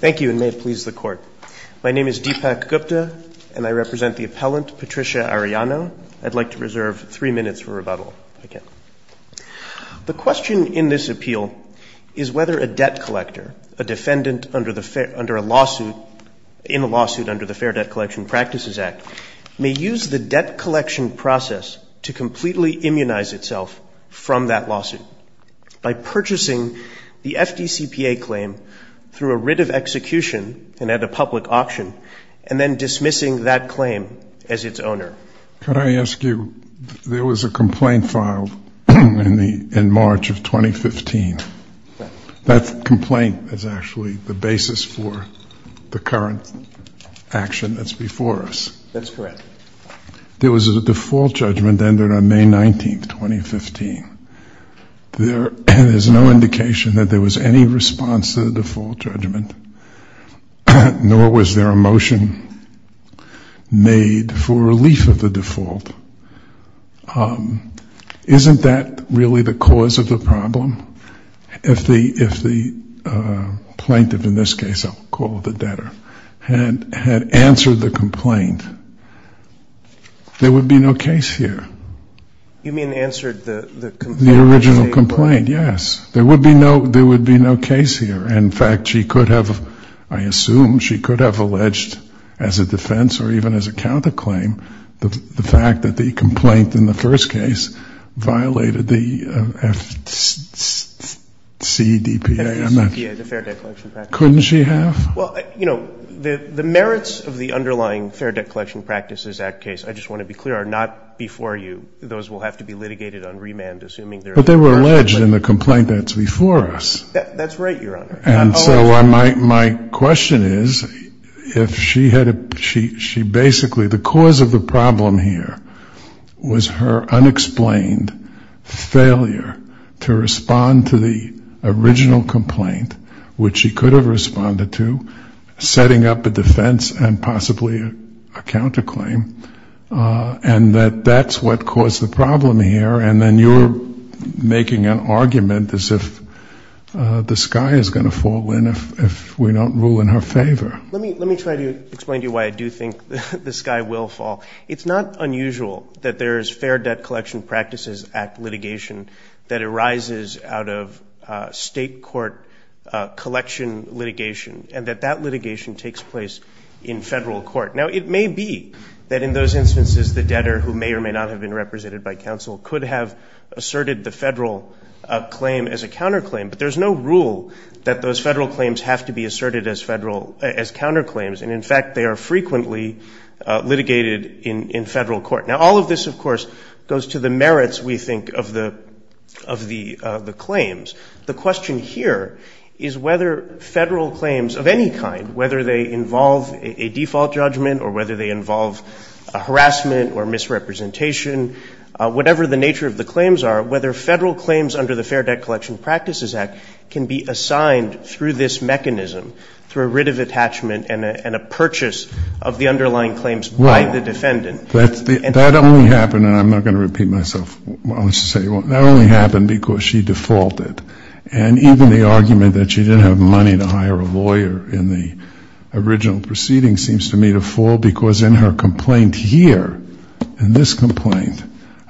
Thank you, and may it please the Court. My name is Deepak Gupta, and I represent the appellant, Patricia Arellano. I'd like to reserve three minutes for rebuttal, if I can. The question in this appeal is whether a debt collector, a defendant under a lawsuit, in a lawsuit under the Fair Debt Collection Practices Act, may use the debt collection process to completely immunize itself from that lawsuit by purchasing the FDCPA claim through a writ of execution and at a public auction, and then dismissing that claim as its owner. Could I ask you, there was a complaint filed in March of 2015. That complaint is actually the basis for the current action that's before us. That's correct. There was a default judgment ended on May 19, 2015. There is no indication that there was any response to the default judgment, nor was there a motion made for relief of the default. Isn't that really the cause of the problem? If the plaintiff, in this case I'll call it the debtor, had answered the complaint, there would be no case here. You mean answered the complaint? The original complaint, yes. There would be no case here. In fact, she could have, I assume, she could have alleged as a defense or even as a counterclaim the fact that the complaint in the first case violated the FCDPA. Couldn't she have? Well, you know, the merits of the underlying Fair Debt Collection Practices Act case, I just want to be clear, are not before you. Those will have to be litigated on remand, assuming they're in the first place. But they were alleged in the complaint that's before us. That's right, Your Honor. And so my question is, if she had, she basically, the cause of the problem here was her unexplained failure to respond to the original complaint, which she could have responded to, setting up a defense and possibly a counterclaim, and that that's what caused the problem here, and then you're making an argument as if the sky is going to fall in if we don't rule in her favor. Let me try to explain to you why I do think the sky will fall. It's not unusual that there is Fair Debt Collection Practices Act litigation that arises out of State court collection litigation, and that that litigation takes place in Federal court. Now, it may be that in those instances the debtor who may or may not have been represented by counsel could have asserted the Federal claim as a counterclaim, but there's no rule that those Federal claims have to be asserted as Federal, as counterclaims. And, in fact, they are frequently litigated in Federal court. Now, all of this, of course, goes to the merits, we think, of the claims. The question here is whether Federal claims of any kind, whether they involve a default judgment, whether they involve a harassment or misrepresentation, whatever the nature of the claims are, whether Federal claims under the Fair Debt Collection Practices Act can be assigned through this mechanism, through a writ of attachment and a purchase of the underlying claims by the defendant. That only happened, and I'm not going to repeat myself, I'll just say, that only happened because she defaulted. And even the argument that she didn't have money to hire a lawyer in the original proceeding seems to me to fall short of the rule, because in her complaint here, in this complaint,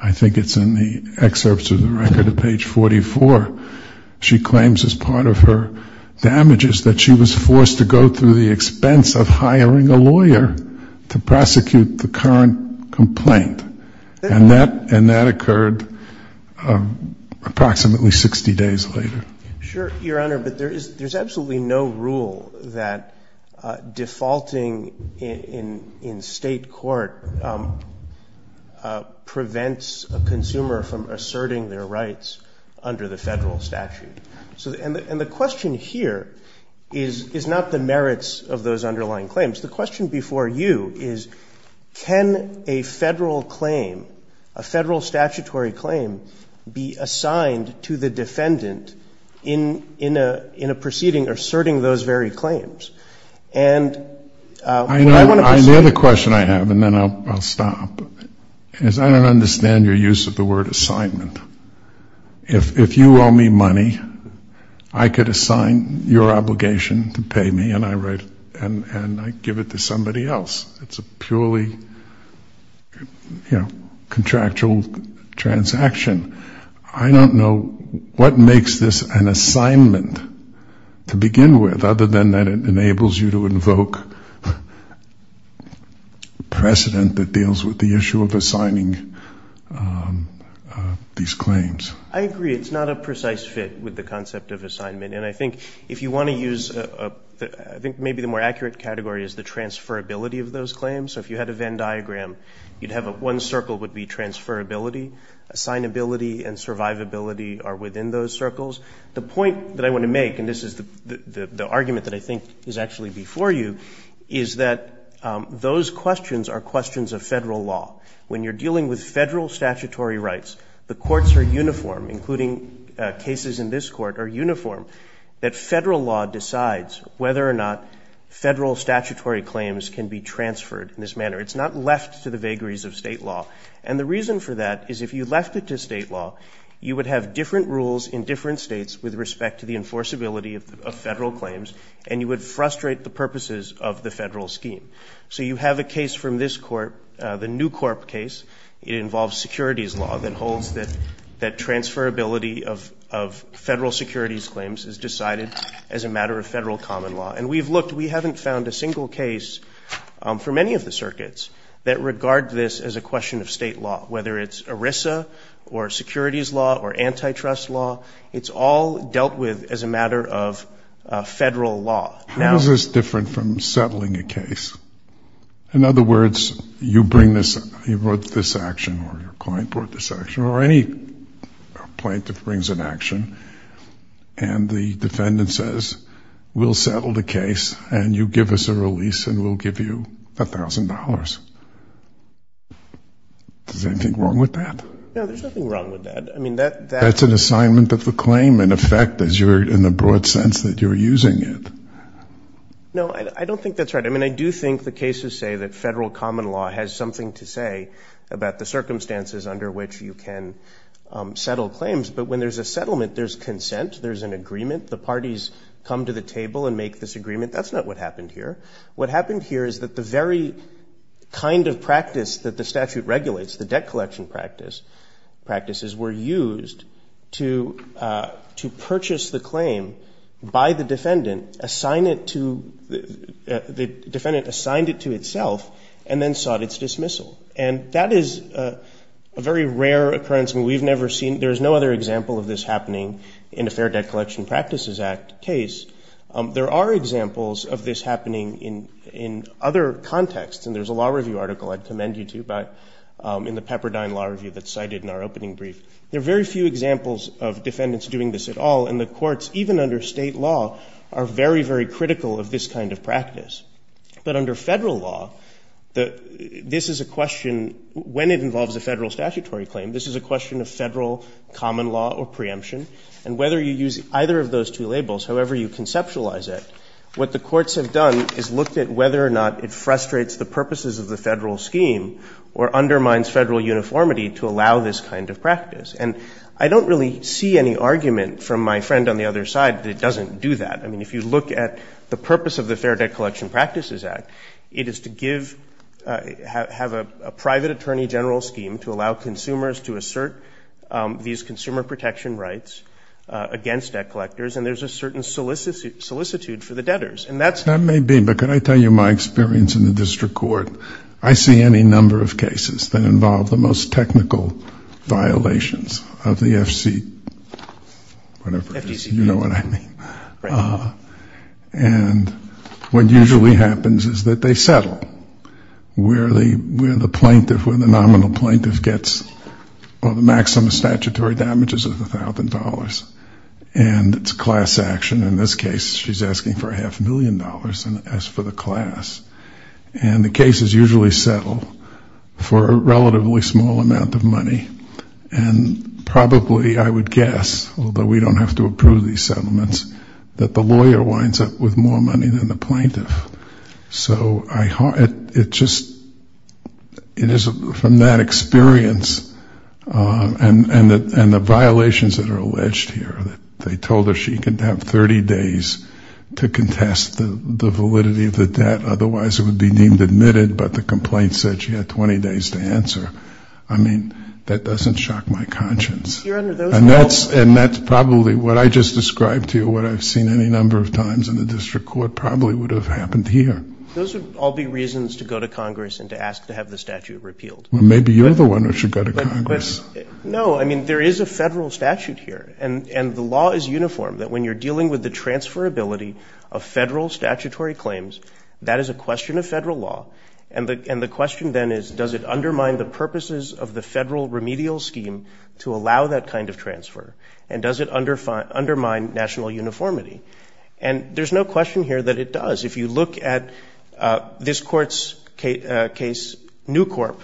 I think it's in the excerpts of the record of page 44, she claims as part of her damages that she was forced to go through the expense of hiring a lawyer to prosecute the current complaint. And that occurred approximately 60 days later. Sure, Your Honor, but there's absolutely no rule that defaulting in state court prevents a consumer from asserting their rights under the Federal statute. And the question here is not the merits of those underlying claims. The question before you is, can a Federal claim, a Federal statutory claim, be assigned to the defendant in order to be able to proceed in a proceeding asserting those very claims? And what I want to say... I know the question I have, and then I'll stop, is I don't understand your use of the word assignment. If you owe me money, I could assign your obligation to pay me, and I write, and I give it to somebody else. It's a purely, you know, contractual transaction. I don't know what makes this an assignment to begin with, other than that it enables you to invoke precedent that deals with the issue of assigning these claims. I agree. It's not a precise fit with the concept of assignment, and I think if you want to use... I think maybe the more accurate category is the transferability of those claims. So if you had a Venn diagram, you'd have one circle would be transferability, assignability, and survivability are within those circles. The point that I want to make, and this is the argument that I think is actually before you, is that those questions are questions of Federal law. When you're dealing with Federal statutory rights, the courts are uniform, including cases in this court are uniform, that Federal law decides whether or not Federal statutory claims can be transferred in this manner. It's not left to the vagaries of State law. And the reason for that is if you left it to State law, you would have different rules in different States with respect to the enforceability of Federal claims, and you would frustrate the purposes of the Federal scheme. So you have a case from this court, the New Corp case. It involves securities law that holds that transferability of Federal securities claims is decided as a matter of Federal common law. And we've looked, we haven't found a single case for many of the circuits that regard this as a question of State law, whether it's ERISA or securities law or antitrust law. It's all dealt with as a matter of Federal law. Now... How is this different from settling a case? In other words, you bring this, you brought this action, or your client brought this action, or any plaintiff brings an action, and the defendant says, we'll settle the case, and you give us a release, and we'll give you $1,000. Is there anything wrong with that? No, there's nothing wrong with that. I mean, that's an assignment of the claim, in effect, as you're, in the broad sense that you're using it. No, I don't think that's right. I mean, I do think the cases say that Federal common law has something to say about the circumstances under which you can settle claims, but when there's a settlement, there's consent, there's an agreement, the parties come to the table and make this agreement. That's not what happened here. What happened here is that the very kind of practice that the statute regulates, the debt collection practice, practices, were used to purchase the claim by the defendant, assign it to, the defendant assigned it to itself, and then sought its dismissal. And that is a very rare occurrence, and we've never seen, there's no other example of this happening in a Fair Debt Collection Practices Act case. There are examples of this happening in other contexts, and there's a law review article I'd commend you to in the Pepperdine Law Review that's cited in our opening brief. There are very few examples of defendants doing this at all, and the courts, even under State law, are very, very critical of this kind of practice. But under Federal law, this is a question, when it involves a Federal statutory claim, this is a question of Federal common law or preemption. And whether you use either of those two labels, however you conceptualize it, what the courts have done is looked at whether or not it frustrates the purposes of the Federal scheme or undermines Federal uniformity to allow this kind of practice. And I don't really see any argument from my friend on the other side that it doesn't do that. I mean, if you look at the purpose of the Fair Debt Collection Practices Act, it is to give, have a private attorney general scheme to allow consumers to assert these consumer protection rights against debt collectors, and there's a certain solicitude for the debtors. And that's... That may be, but can I tell you my experience in the district court? I see any number of cases that involve the most technical violations of the FC, whatever, you know what I mean. And what usually happens is that they settle where the plaintiff, where the nominal plaintiff gets the maximum statutory damages of the thousand dollars, and it's class action. In this case, she's asking for a half million dollars as for the class. And the cases usually settle for a relatively small amount of money. And probably I would guess, although we don't have to approve these settlements, that the lawyer winds up with more money than the plaintiff. So it just... From that experience, and the violations that are alleged here, that they told her she could have 30 days to contest the validity of the debt, otherwise it would be deemed admitted, but the complaint said she had 20 days to answer. I mean, that doesn't shock my conscience. And that's probably what I just described to you, what I've seen any number of times in the district court probably would have happened here. Those would all be reasons to go to Congress and to ask to have the statute repealed. No, I mean, there is a federal statute here, and the law is uniform, that when you're dealing with the transferability of federal statutory claims, that is a question of federal law, and the question then is, does it undermine the purposes of the federal remedial scheme to allow that kind of transfer, and does it undermine national uniformity? And there's no question here that it does. If you look at this court's case, New Corp,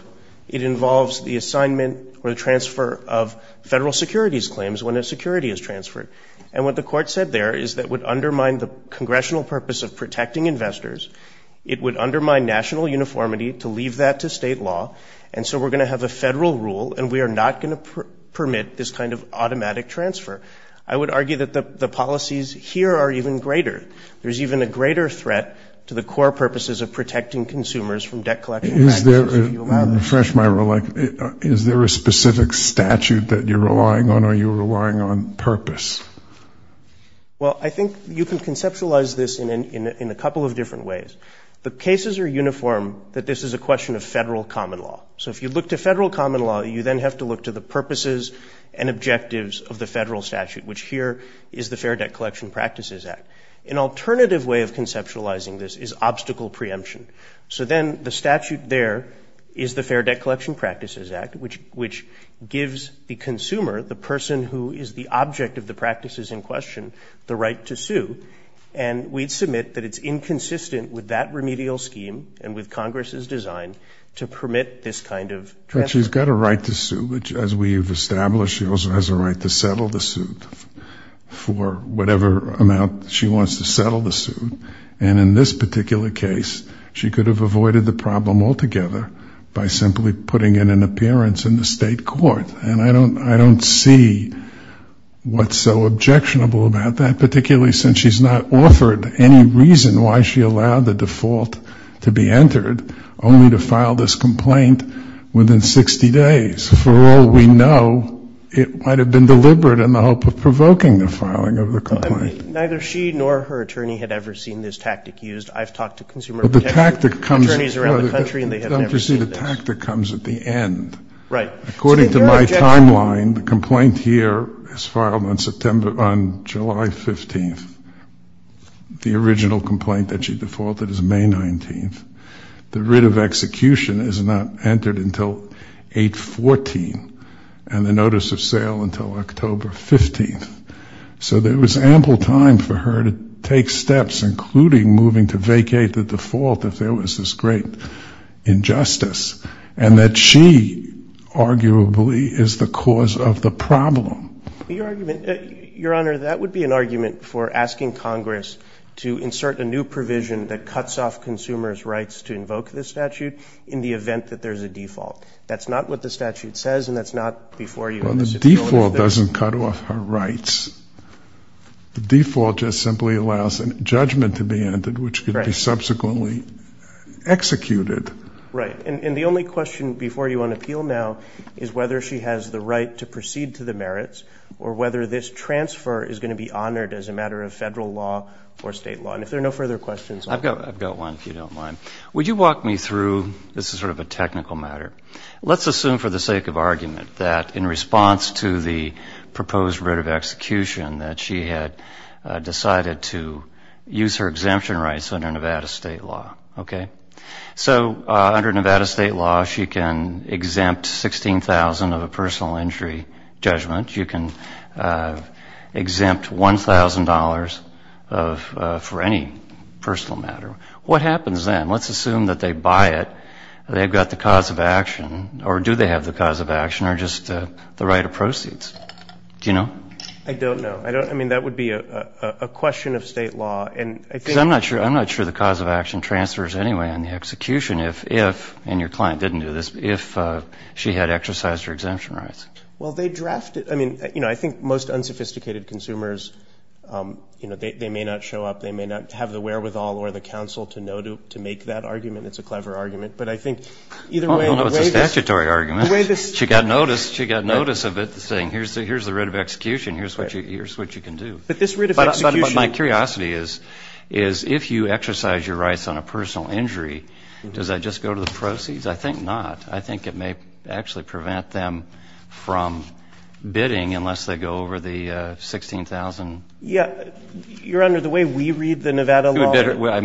it involves the assignment or the transfer of federal securities claims when a security is transferred, and what the court said there is that it would undermine the congressional purpose of protecting investors, it would undermine national uniformity to leave that to state law, and so we're going to have a federal rule, and we are not going to permit this kind of automatic transfer. I would argue that the policies here are even greater. There's even a greater threat to the core purposes of protecting consumers from debt collection. Is there a specific statute that you're relying on, or are you relying on purpose? Well, I think you can conceptualize this in a couple of different ways. The cases are uniform, but this is a question of federal common law. You then have to look to the purposes and objectives of the federal statute, which here is the Fair Debt Collection Practices Act. An alternative way of conceptualizing this is obstacle preemption. So then the statute there is the Fair Debt Collection Practices Act, which gives the consumer, the person who is the object of the practices in question, the right to sue, and we'd submit that it's inconsistent with that remedial scheme and with Congress's design to permit this kind of transfer. The person has got a right to sue, which as we've established, she also has a right to settle the suit for whatever amount she wants to settle the suit, and in this particular case, she could have avoided the problem altogether by simply putting in an appearance in the state court, and I don't see what's so objectionable about that, particularly since she's not authored any reason why she allowed the default to be entered, only to file this complaint within 60 days. For all we know, it might have been deliberate in the hope of provoking the filing of the complaint. I mean, neither she nor her attorney had ever seen this tactic used. I've talked to consumer protection attorneys around the country, and they have never seen this. The tactic comes at the end. According to my timeline, the complaint here is filed on July 15th. The original complaint that she defaulted is May 19th. The writ of execution is not entered until April 15th. The original complaint that she defaulted is May 14th, and the notice of sale until October 15th. So there was ample time for her to take steps, including moving to vacate the default if there was this great injustice, and that she, arguably, is the cause of the problem. Your Honor, that would be an argument for asking Congress to insert a new provision that cuts off consumers' rights to invoke this statute in the event that there's a default. That's not what the statute says, and that's not before you. Well, the default doesn't cut off her rights. The default just simply allows a judgment to be entered, which could be subsequently executed. Right. And the only question before you on appeal now is whether she has the right to proceed to the merits, or whether this transfer is going to be honored as a matter of federal law or state law. And if there are no further questions on that. I've got one, if you don't mind. Would you walk me through, this is sort of a technical matter, let's assume for the sake of argument that in response to the proposed writ of execution that she had decided to use her exemption rights under Nevada state law. So under Nevada state law, she can exempt $16,000 of a personal injury judgment. You can exempt $1,000 for any personal matter. What happens then? Let's assume that they buy it, they've got the cause of action, or do they have the cause of action, or just the right of proceeds. Do you know? I don't know. I mean, that would be a question of state law. Because I'm not sure the cause of action transfers anyway on the execution if, and your client didn't do this, if she had exercised her exemption rights. Well, they drafted, I mean, you know, I think most unsophisticated consumers, you know, they may not show up, they may not have the wherewithal or the counsel to know to make that argument. It's a clever argument. But I think either way. It's a statutory argument. She got notice of it saying here's the writ of execution, here's what you can do. But this writ of execution. But my curiosity is if you exercise your rights on a personal injury, does that just go to the proceeds? I think not. I think it may actually be a little bit of a distraction from bidding unless they go over the 16,000. Your Honor, the way we read the Nevada law. Let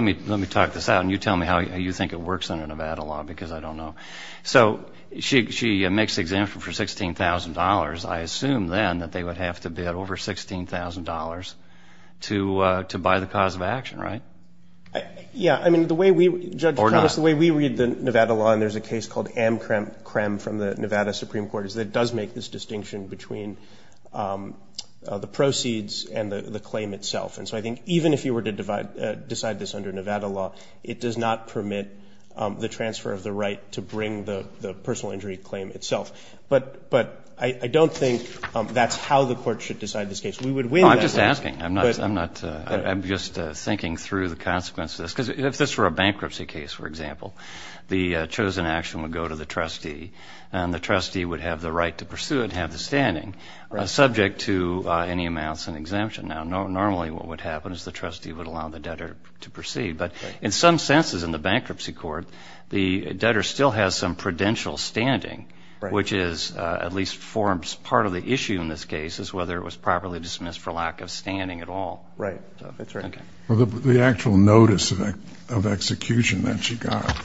me talk this out, and you tell me how you think it works under Nevada law, because I don't know. So she makes the exemption for $16,000. I assume then that they would have to bid over $16,000 to buy the cause of action, right? Yeah. I mean, the way we read the Nevada law, and there's a case called Amcrem from the Nevada Supreme Court, is that it does make this distinction between the proceeds and the claim itself. And so I think even if you were to decide this under Nevada law, it does not permit the transfer of the right to bring the personal injury claim itself. But I don't think that's how the court should decide this case. Oh, I'm just asking. I'm just thinking through the consequences. Because if this were a bankruptcy case, for example, the chosen action would go to the trustee, and the trustee would have the right to pursue it and have the standing, subject to any amounts and exemption. Now, normally what would happen is the trustee would allow the debtor to proceed. But in some senses in the bankruptcy court, the debtor still has some prudential standing, which is, at least forms part of the issue in this case, is whether it was properly dismissed for lack of standing at all. Right. That's right. Well, the actual notice of execution that she got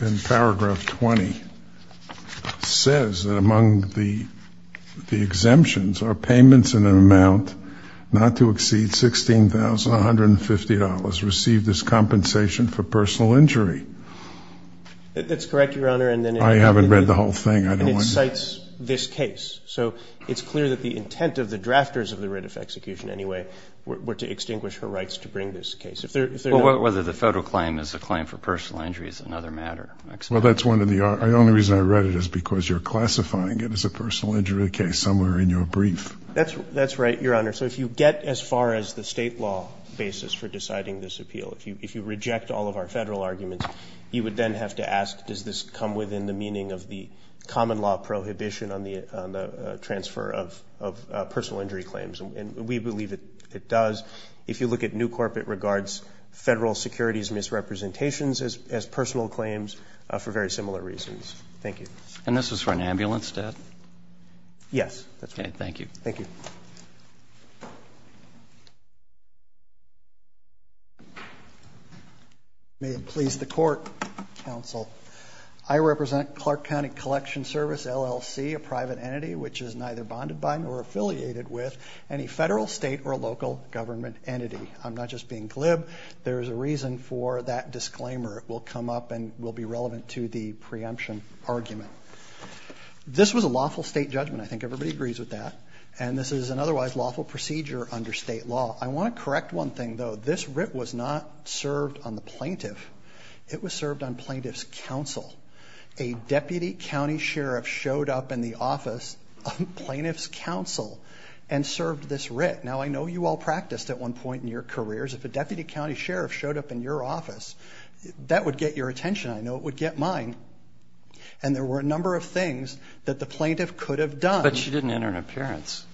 in paragraph 20 says that among the exemptions are payments in an amount not to exceed $16,150 received as compensation for personal injury. That's correct, Your Honor. I haven't read the whole thing. And it cites this case. So it's clear that the intent of the drafters of the writ of execution, anyway, were to extinguish her rights to bring this case. Well, whether the federal claim is a claim for personal injury is another matter. Well, that's one of the – the only reason I read it is because you're classifying it as a personal injury case somewhere in your brief. That's right, Your Honor. So if you get as far as the state law basis for deciding this appeal, if you reject all of our federal arguments, you would then have to ask, does this come within the meaning of the common law prohibition on the transfer of personal injury claims? And we believe it does. If you look at New Corp, it regards federal securities misrepresentations as personal claims for very similar reasons. Thank you. And this is for an ambulance, Dad? Yes, that's right. Thank you. May it please the Court, Counsel, I represent Clark County Collection Service, LLC, a private entity which is neither bonded by nor affiliated with any federal, state, or local government entity. I'm not just being glib. There's a reason for that disclaimer. It will come up and will be relevant to the preemption argument. This was a lawful state judgment. I think everybody agrees with that. And this is an otherwise lawful procedure under state law. I want to correct one thing, though. This writ was not served on the plaintiff. It was served on plaintiff's counsel. A deputy county sheriff showed up in the office of plaintiff's counsel and served this writ. Now, I know you all practiced at one point in your careers. If a deputy county sheriff showed up in your office, that would get your attention. I know it would get mine. And there were a number of things that the plaintiff could have done. But she didn't enter an appearance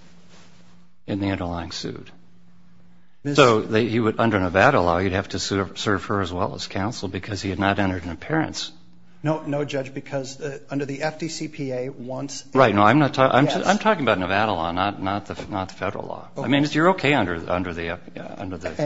in the underlying suit. So under Nevada law, you'd have to serve her as well as counsel because he had not entered an appearance. No, Judge, because under the FDCPA, once... Right. No, I'm talking about Nevada law, not federal law. I mean, you're okay under the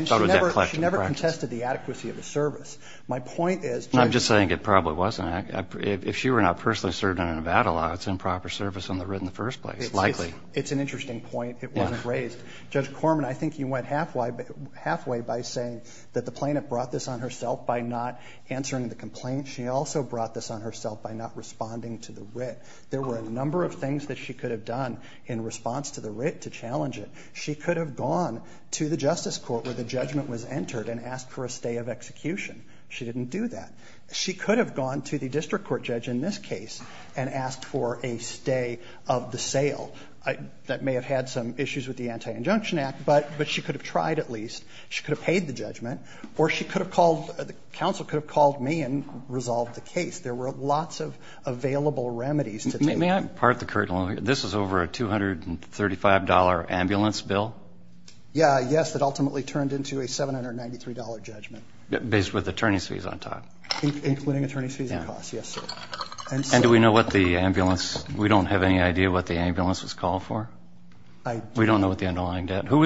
Federal Debt Collection Practice. And she never contested the adequacy of the service. My point is... I'm just saying it probably wasn't. If she were not personally served under Nevada law, it's improper service on the writ in the first place, likely. It's an interesting point. It wasn't raised. Judge Corman, I think you went halfway by saying that the plaintiff brought this on herself by not answering the complaint. She also brought this on herself by not responding to the writ. There were a number of things that she could have done in response to the writ to challenge it. She could have gone to the Justice Court where the judgment was entered and asked for a stay of execution. She didn't do that. She could have gone to the district court judge in this case and asked for a stay of the sale. That may have had some issues with the Anti-Injunction Act, but she could have tried at least. She could have paid the judgment. Or the counsel could have called me and resolved the case. There were lots of available remedies to take. May I part the curtain? This is over a $235 ambulance bill? Yes, that ultimately turned into a $793 judgment. Based with attorney's fees on top? Including attorney's fees and costs, yes, sir. We don't have any idea what the ambulance was called for? We don't know the underlying debt? Who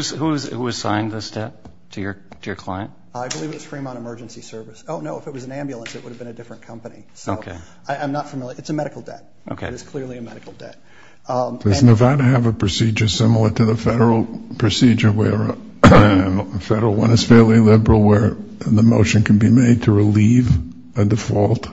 assigned this debt to your client? I believe it was Fremont Emergency Service. If it was an ambulance, it would have been a different company. I'm not familiar. It's a medical debt. Does Nevada have a procedure similar to the federal procedure? The federal one is fairly liberal where the motion can be made to relieve a default?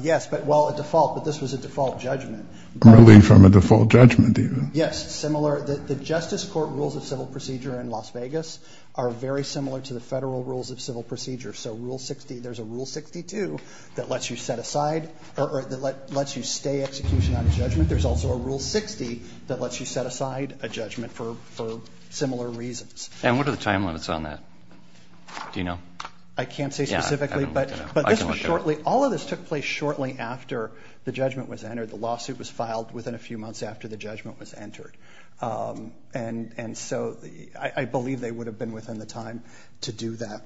Yes, a default, but this was a default judgment. Relief from a default judgment? Yes, similar. The Justice Court rules of civil procedure in Las Vegas are very similar to the federal rules of civil procedure. There's a Rule 62 that lets you stay execution on a judgment. There's also a Rule 60 that lets you set aside a judgment for similar reasons. What are the time limits on that? I can't say specifically. All of this took place shortly after the judgment was entered. The lawsuit was filed within a few months after the judgment was entered. I believe they would have been within the time to do that.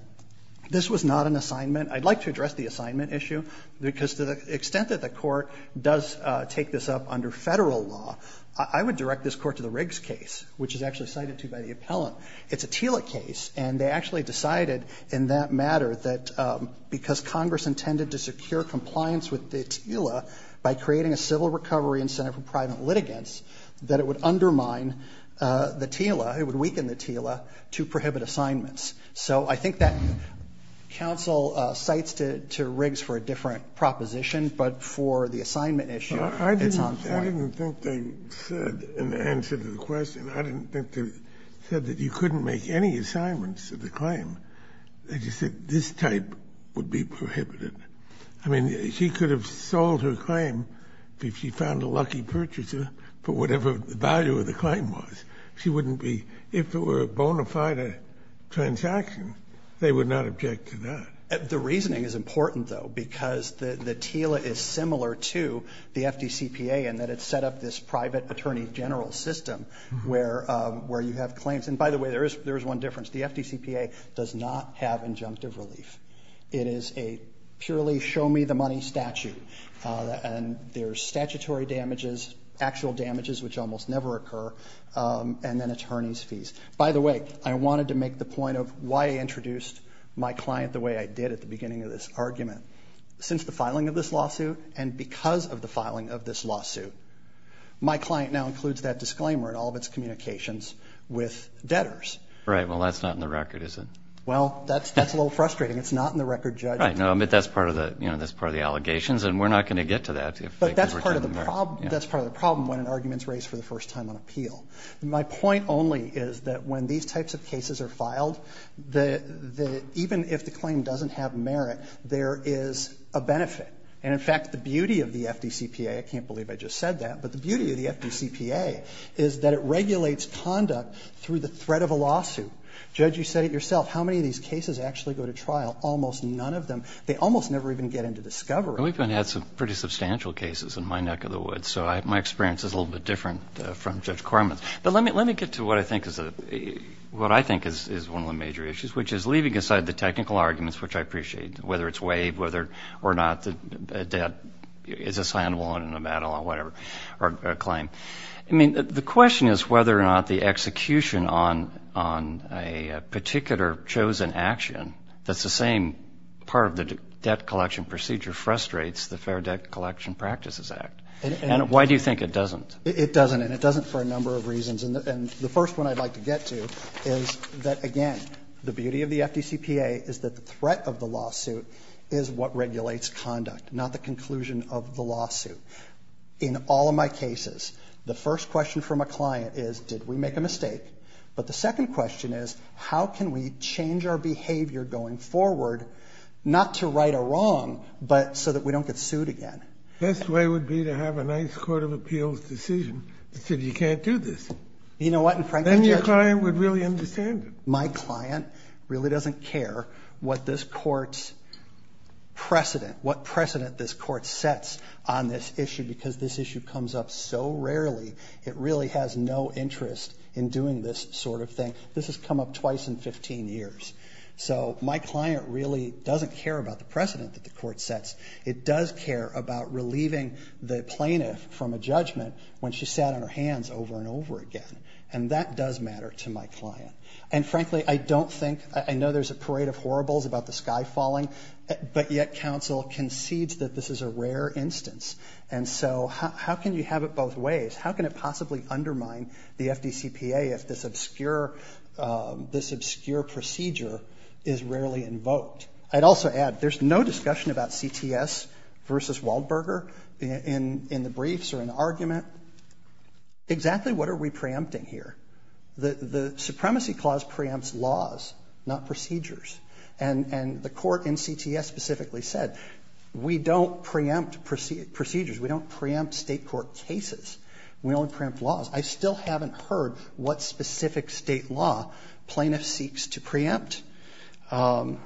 This was not an assignment. I'd like to address the assignment issue because to the extent that the Court does take this up under federal law, I would direct this Court to the Riggs case which is actually cited to by the appellant. It's a TILA case and they actually decided in that matter that because Congress intended to secure compliance with the TILA by creating a civil recovery incentive for private litigants that it would undermine the TILA, it would weaken the TILA to prohibit assignments. I think that counsel cites to Riggs for a different proposition but for the assignment issue, it's on point. I didn't think they said in answer to the question I didn't think they said that you couldn't make any assignments to the claim. They just said this type would be prohibited. She could have sold her claim if she found a lucky purchaser for whatever the value of the claim was. If it were a bona fide transaction, they would not object to that. The reasoning is important though because the TILA is similar to the FDCPA in that it set up this private attorney general system where you have claims. By the way, there is one difference. The FDCPA does not have injunctive relief. It is a purely show me the money statute and there's statutory damages, actual damages which almost never occur and then attorney's fees. By the way, I wanted to make the point of why I introduced my client the way I did at the beginning of this argument. Since the filing of this lawsuit and because of the filing of this lawsuit, my client now includes that disclaimer in all of its communications with debtors. Well, that's not in the record, is it? That's a little frustrating. It's not in the record. That's part of the allegations and we're not going to get to that. That's part of the problem when an argument is raised for the first time on appeal. My point only is that when these types of cases are filed, even if the claim doesn't have merit, there is a benefit. In fact, the beauty of the FDCPA, I can't believe I just said that, but the beauty of the FDCPA is that it regulates conduct through the threat of a lawsuit. Judge, you said it yourself, how many of these cases actually go to trial? Almost none of them. They almost never even get into discovery. We've had some pretty substantial cases in my neck of the woods, so my experience is a little bit different from Judge Corman's. But let me get to what I think is one of the major issues, which is leaving aside the technical arguments, which I appreciate, whether it's WAVE or not, the debt is assignable in a battle or whatever, or a claim. I mean, the question is whether or not the execution on a particular chosen action that's the same part of the debt collection procedure frustrates the Fair Debt Collection Practices Act. And why do you think it doesn't? It doesn't, and it doesn't for a number of reasons. And the first one I'd like to get to is that, again, the beauty of the FDCPA is that the threat of the lawsuit is what regulates conduct, not the conclusion of the lawsuit. In all of my cases, the first question from a client is, did we make a mistake? But the second question is, how can we change our behavior going forward, not to right a wrong, but so that we don't get sued again? The best way would be to have a nice Court of Appeals decision that said you can't do this. Then your client would really understand it. My client really doesn't care what this Court's precedent, what precedent this Court sets on this issue because this issue comes up so rarely it really has no interest in doing this sort of thing. This has come up twice in 15 years. So my client really doesn't care about the precedent that the Court sets. It does care about relieving the plaintiff from a judgment when she sat on her hands over and over again. And that does matter to my client. And frankly, I know there's a parade of horribles about the sky falling, but yet counsel concedes that this is a rare instance. And so how can you have it both ways? How can it possibly undermine the FDCPA if this obscure procedure is rarely invoked? I'd also add there's no discussion about CTS versus Waldberger in the briefs or in the argument. Exactly what are we preempting here? The Supremacy Clause preempts laws, not procedures. And the Court in CTS specifically said we don't preempt procedures. We don't preempt state court cases. We only preempt laws. I still haven't heard what specific state law plaintiff seeks to preempt. And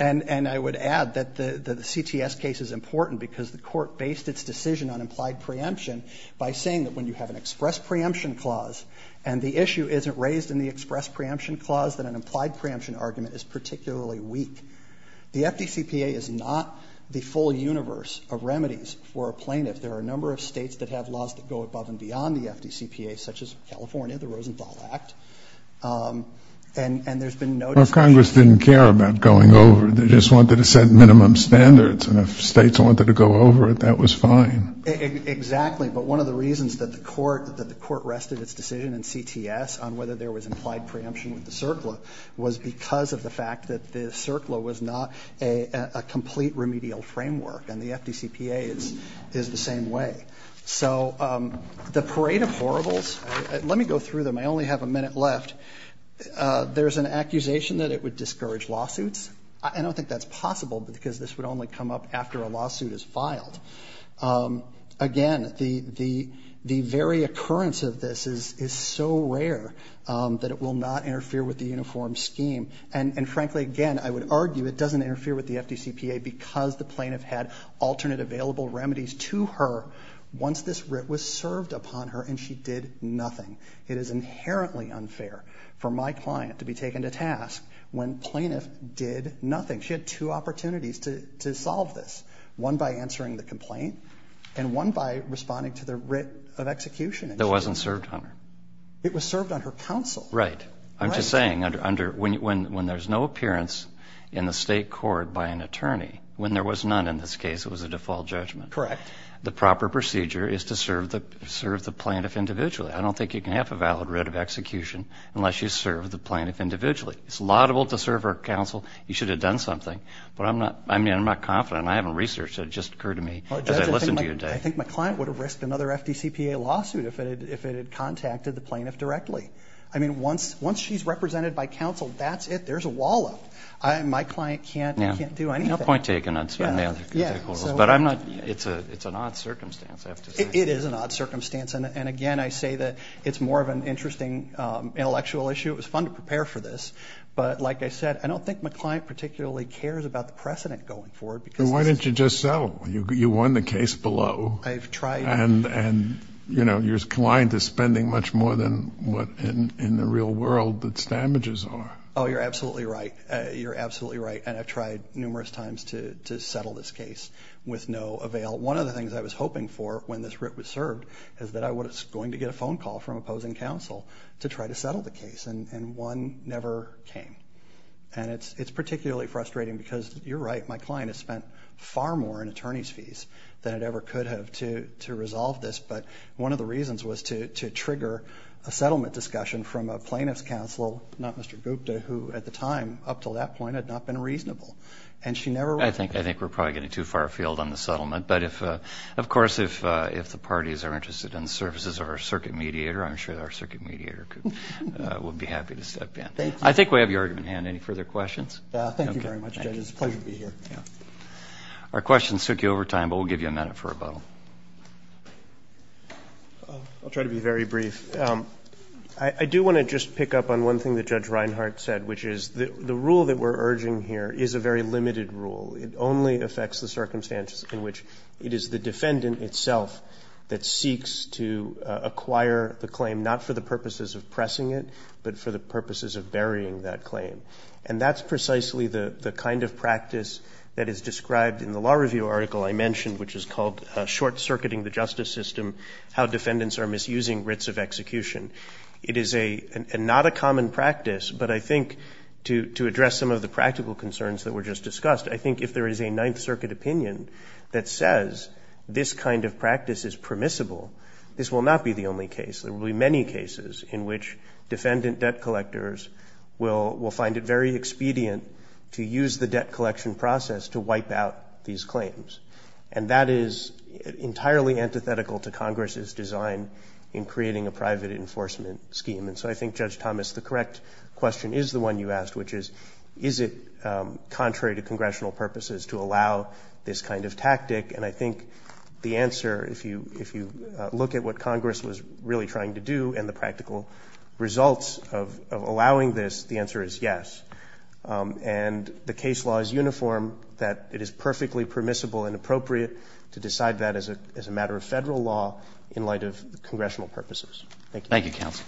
I would add that the CTS case is important because the Court based its decision on implied preemption by saying that when you have an express preemption clause and the issue isn't raised in the express preemption clause, that an implied preemption argument is particularly weak. The FDCPA is not the full universe of remedies for a plaintiff. There are a number of states that have laws that go above and beyond the FDCPA, such as California, the Rosenthal Act, and there's been no discussion. But states didn't care about going over. They just wanted to set minimum standards. And if states wanted to go over it, that was fine. Exactly. But one of the reasons that the Court rested its decision in CTS on whether there was implied preemption with the CERCLA was because of the fact that the CERCLA was not a complete remedial framework. And the FDCPA is the same way. So the parade of horribles, let me go through them, I only have a minute left. There's an accusation that it would discourage lawsuits. I don't think that's possible because this would only come up after a lawsuit is filed. Again, the very occurrence of this is so rare that it will not interfere with the uniform scheme. And frankly, again, I would argue it doesn't interfere with the FDCPA because the plaintiff had alternate available remedies to her once this writ was served upon her and she did nothing. It is inherently unfair for my client to be taken to task when plaintiff did nothing. She had two opportunities to solve this. One by answering the complaint and one by responding to the writ of execution. That wasn't served on her. It was served on her counsel. Right. I'm just saying, when there's no appearance in the state court by an attorney, when there was none in this case, it was a default judgment, the proper procedure is to serve the plaintiff individually. I don't think you can have a valid writ of execution unless you serve the plaintiff individually. It's laudable to serve her counsel. You should have done something. I'm not confident. I haven't researched it. I think my client would have risked another FDCPA lawsuit if it had contacted the plaintiff directly. Once she's represented by counsel, that's it. There's a wall up. My client can't do anything. It's an odd circumstance. It is an odd circumstance. Again, I say that it's more of an interesting intellectual issue. It was fun to prepare for this. Like I said, I don't think my client particularly cares about the precedent going forward. Why didn't you just settle? You won the case below. Your client is spending much more than what in the real world its damages are. You're absolutely right. I've tried numerous times to settle this case with no avail. One of the things I was hoping for when this writ was served is that I was going to get a phone call from opposing counsel to try to settle the case. One never came. It's particularly frustrating because, you're right, my client has spent far more in attorney's fees than it ever could have to resolve this. One of the reasons was to trigger a settlement discussion from a plaintiff's counsel, not Mr. Gupta, who at the time, up until that point, had not been reasonable. I think we're probably getting too far afield on the settlement. Of course, if the parties are interested in the services of our circuit mediator, I'm sure our circuit mediator would be happy to step in. I think we have your argument at hand. Any further questions? Our questions took you over time, but we'll give you a minute for rebuttal. I'll try to be very brief. I do want to just pick up on one thing that Judge Reinhart said, which is the rule that we're urging here is a very limited rule. It only affects the circumstances in which it is the defendant itself that seeks to acquire the claim, not for the purposes of pressing it, but for the purposes of burying that claim. And that's precisely the kind of practice that is described in the law review article I mentioned, which is called Short-Circuiting the Justice System, How Defendants are Misusing Writs of Execution. It is not a common practice, but I think to address some of the practical concerns that were just discussed, I think if there is a Ninth Circuit opinion that says this kind of practice is permissible, this will not be the only case. There will be many cases in which defendant debt collectors will find it very expedient to use the debt collection process to wipe out these claims. And that is entirely antithetical to Congress's design in creating a private enforcement scheme. And so I think, Judge Thomas, the correct question is the one you asked, which is, is it contrary to congressional purposes to allow this kind of tactic? And I think the answer, if you look at what Congress was really trying to do and the practical results of allowing this, the answer is yes. And the case law is uniform that it is perfectly permissible and appropriate to decide that as a matter of federal law in light of congressional purposes. Thank you. Thank you, counsel.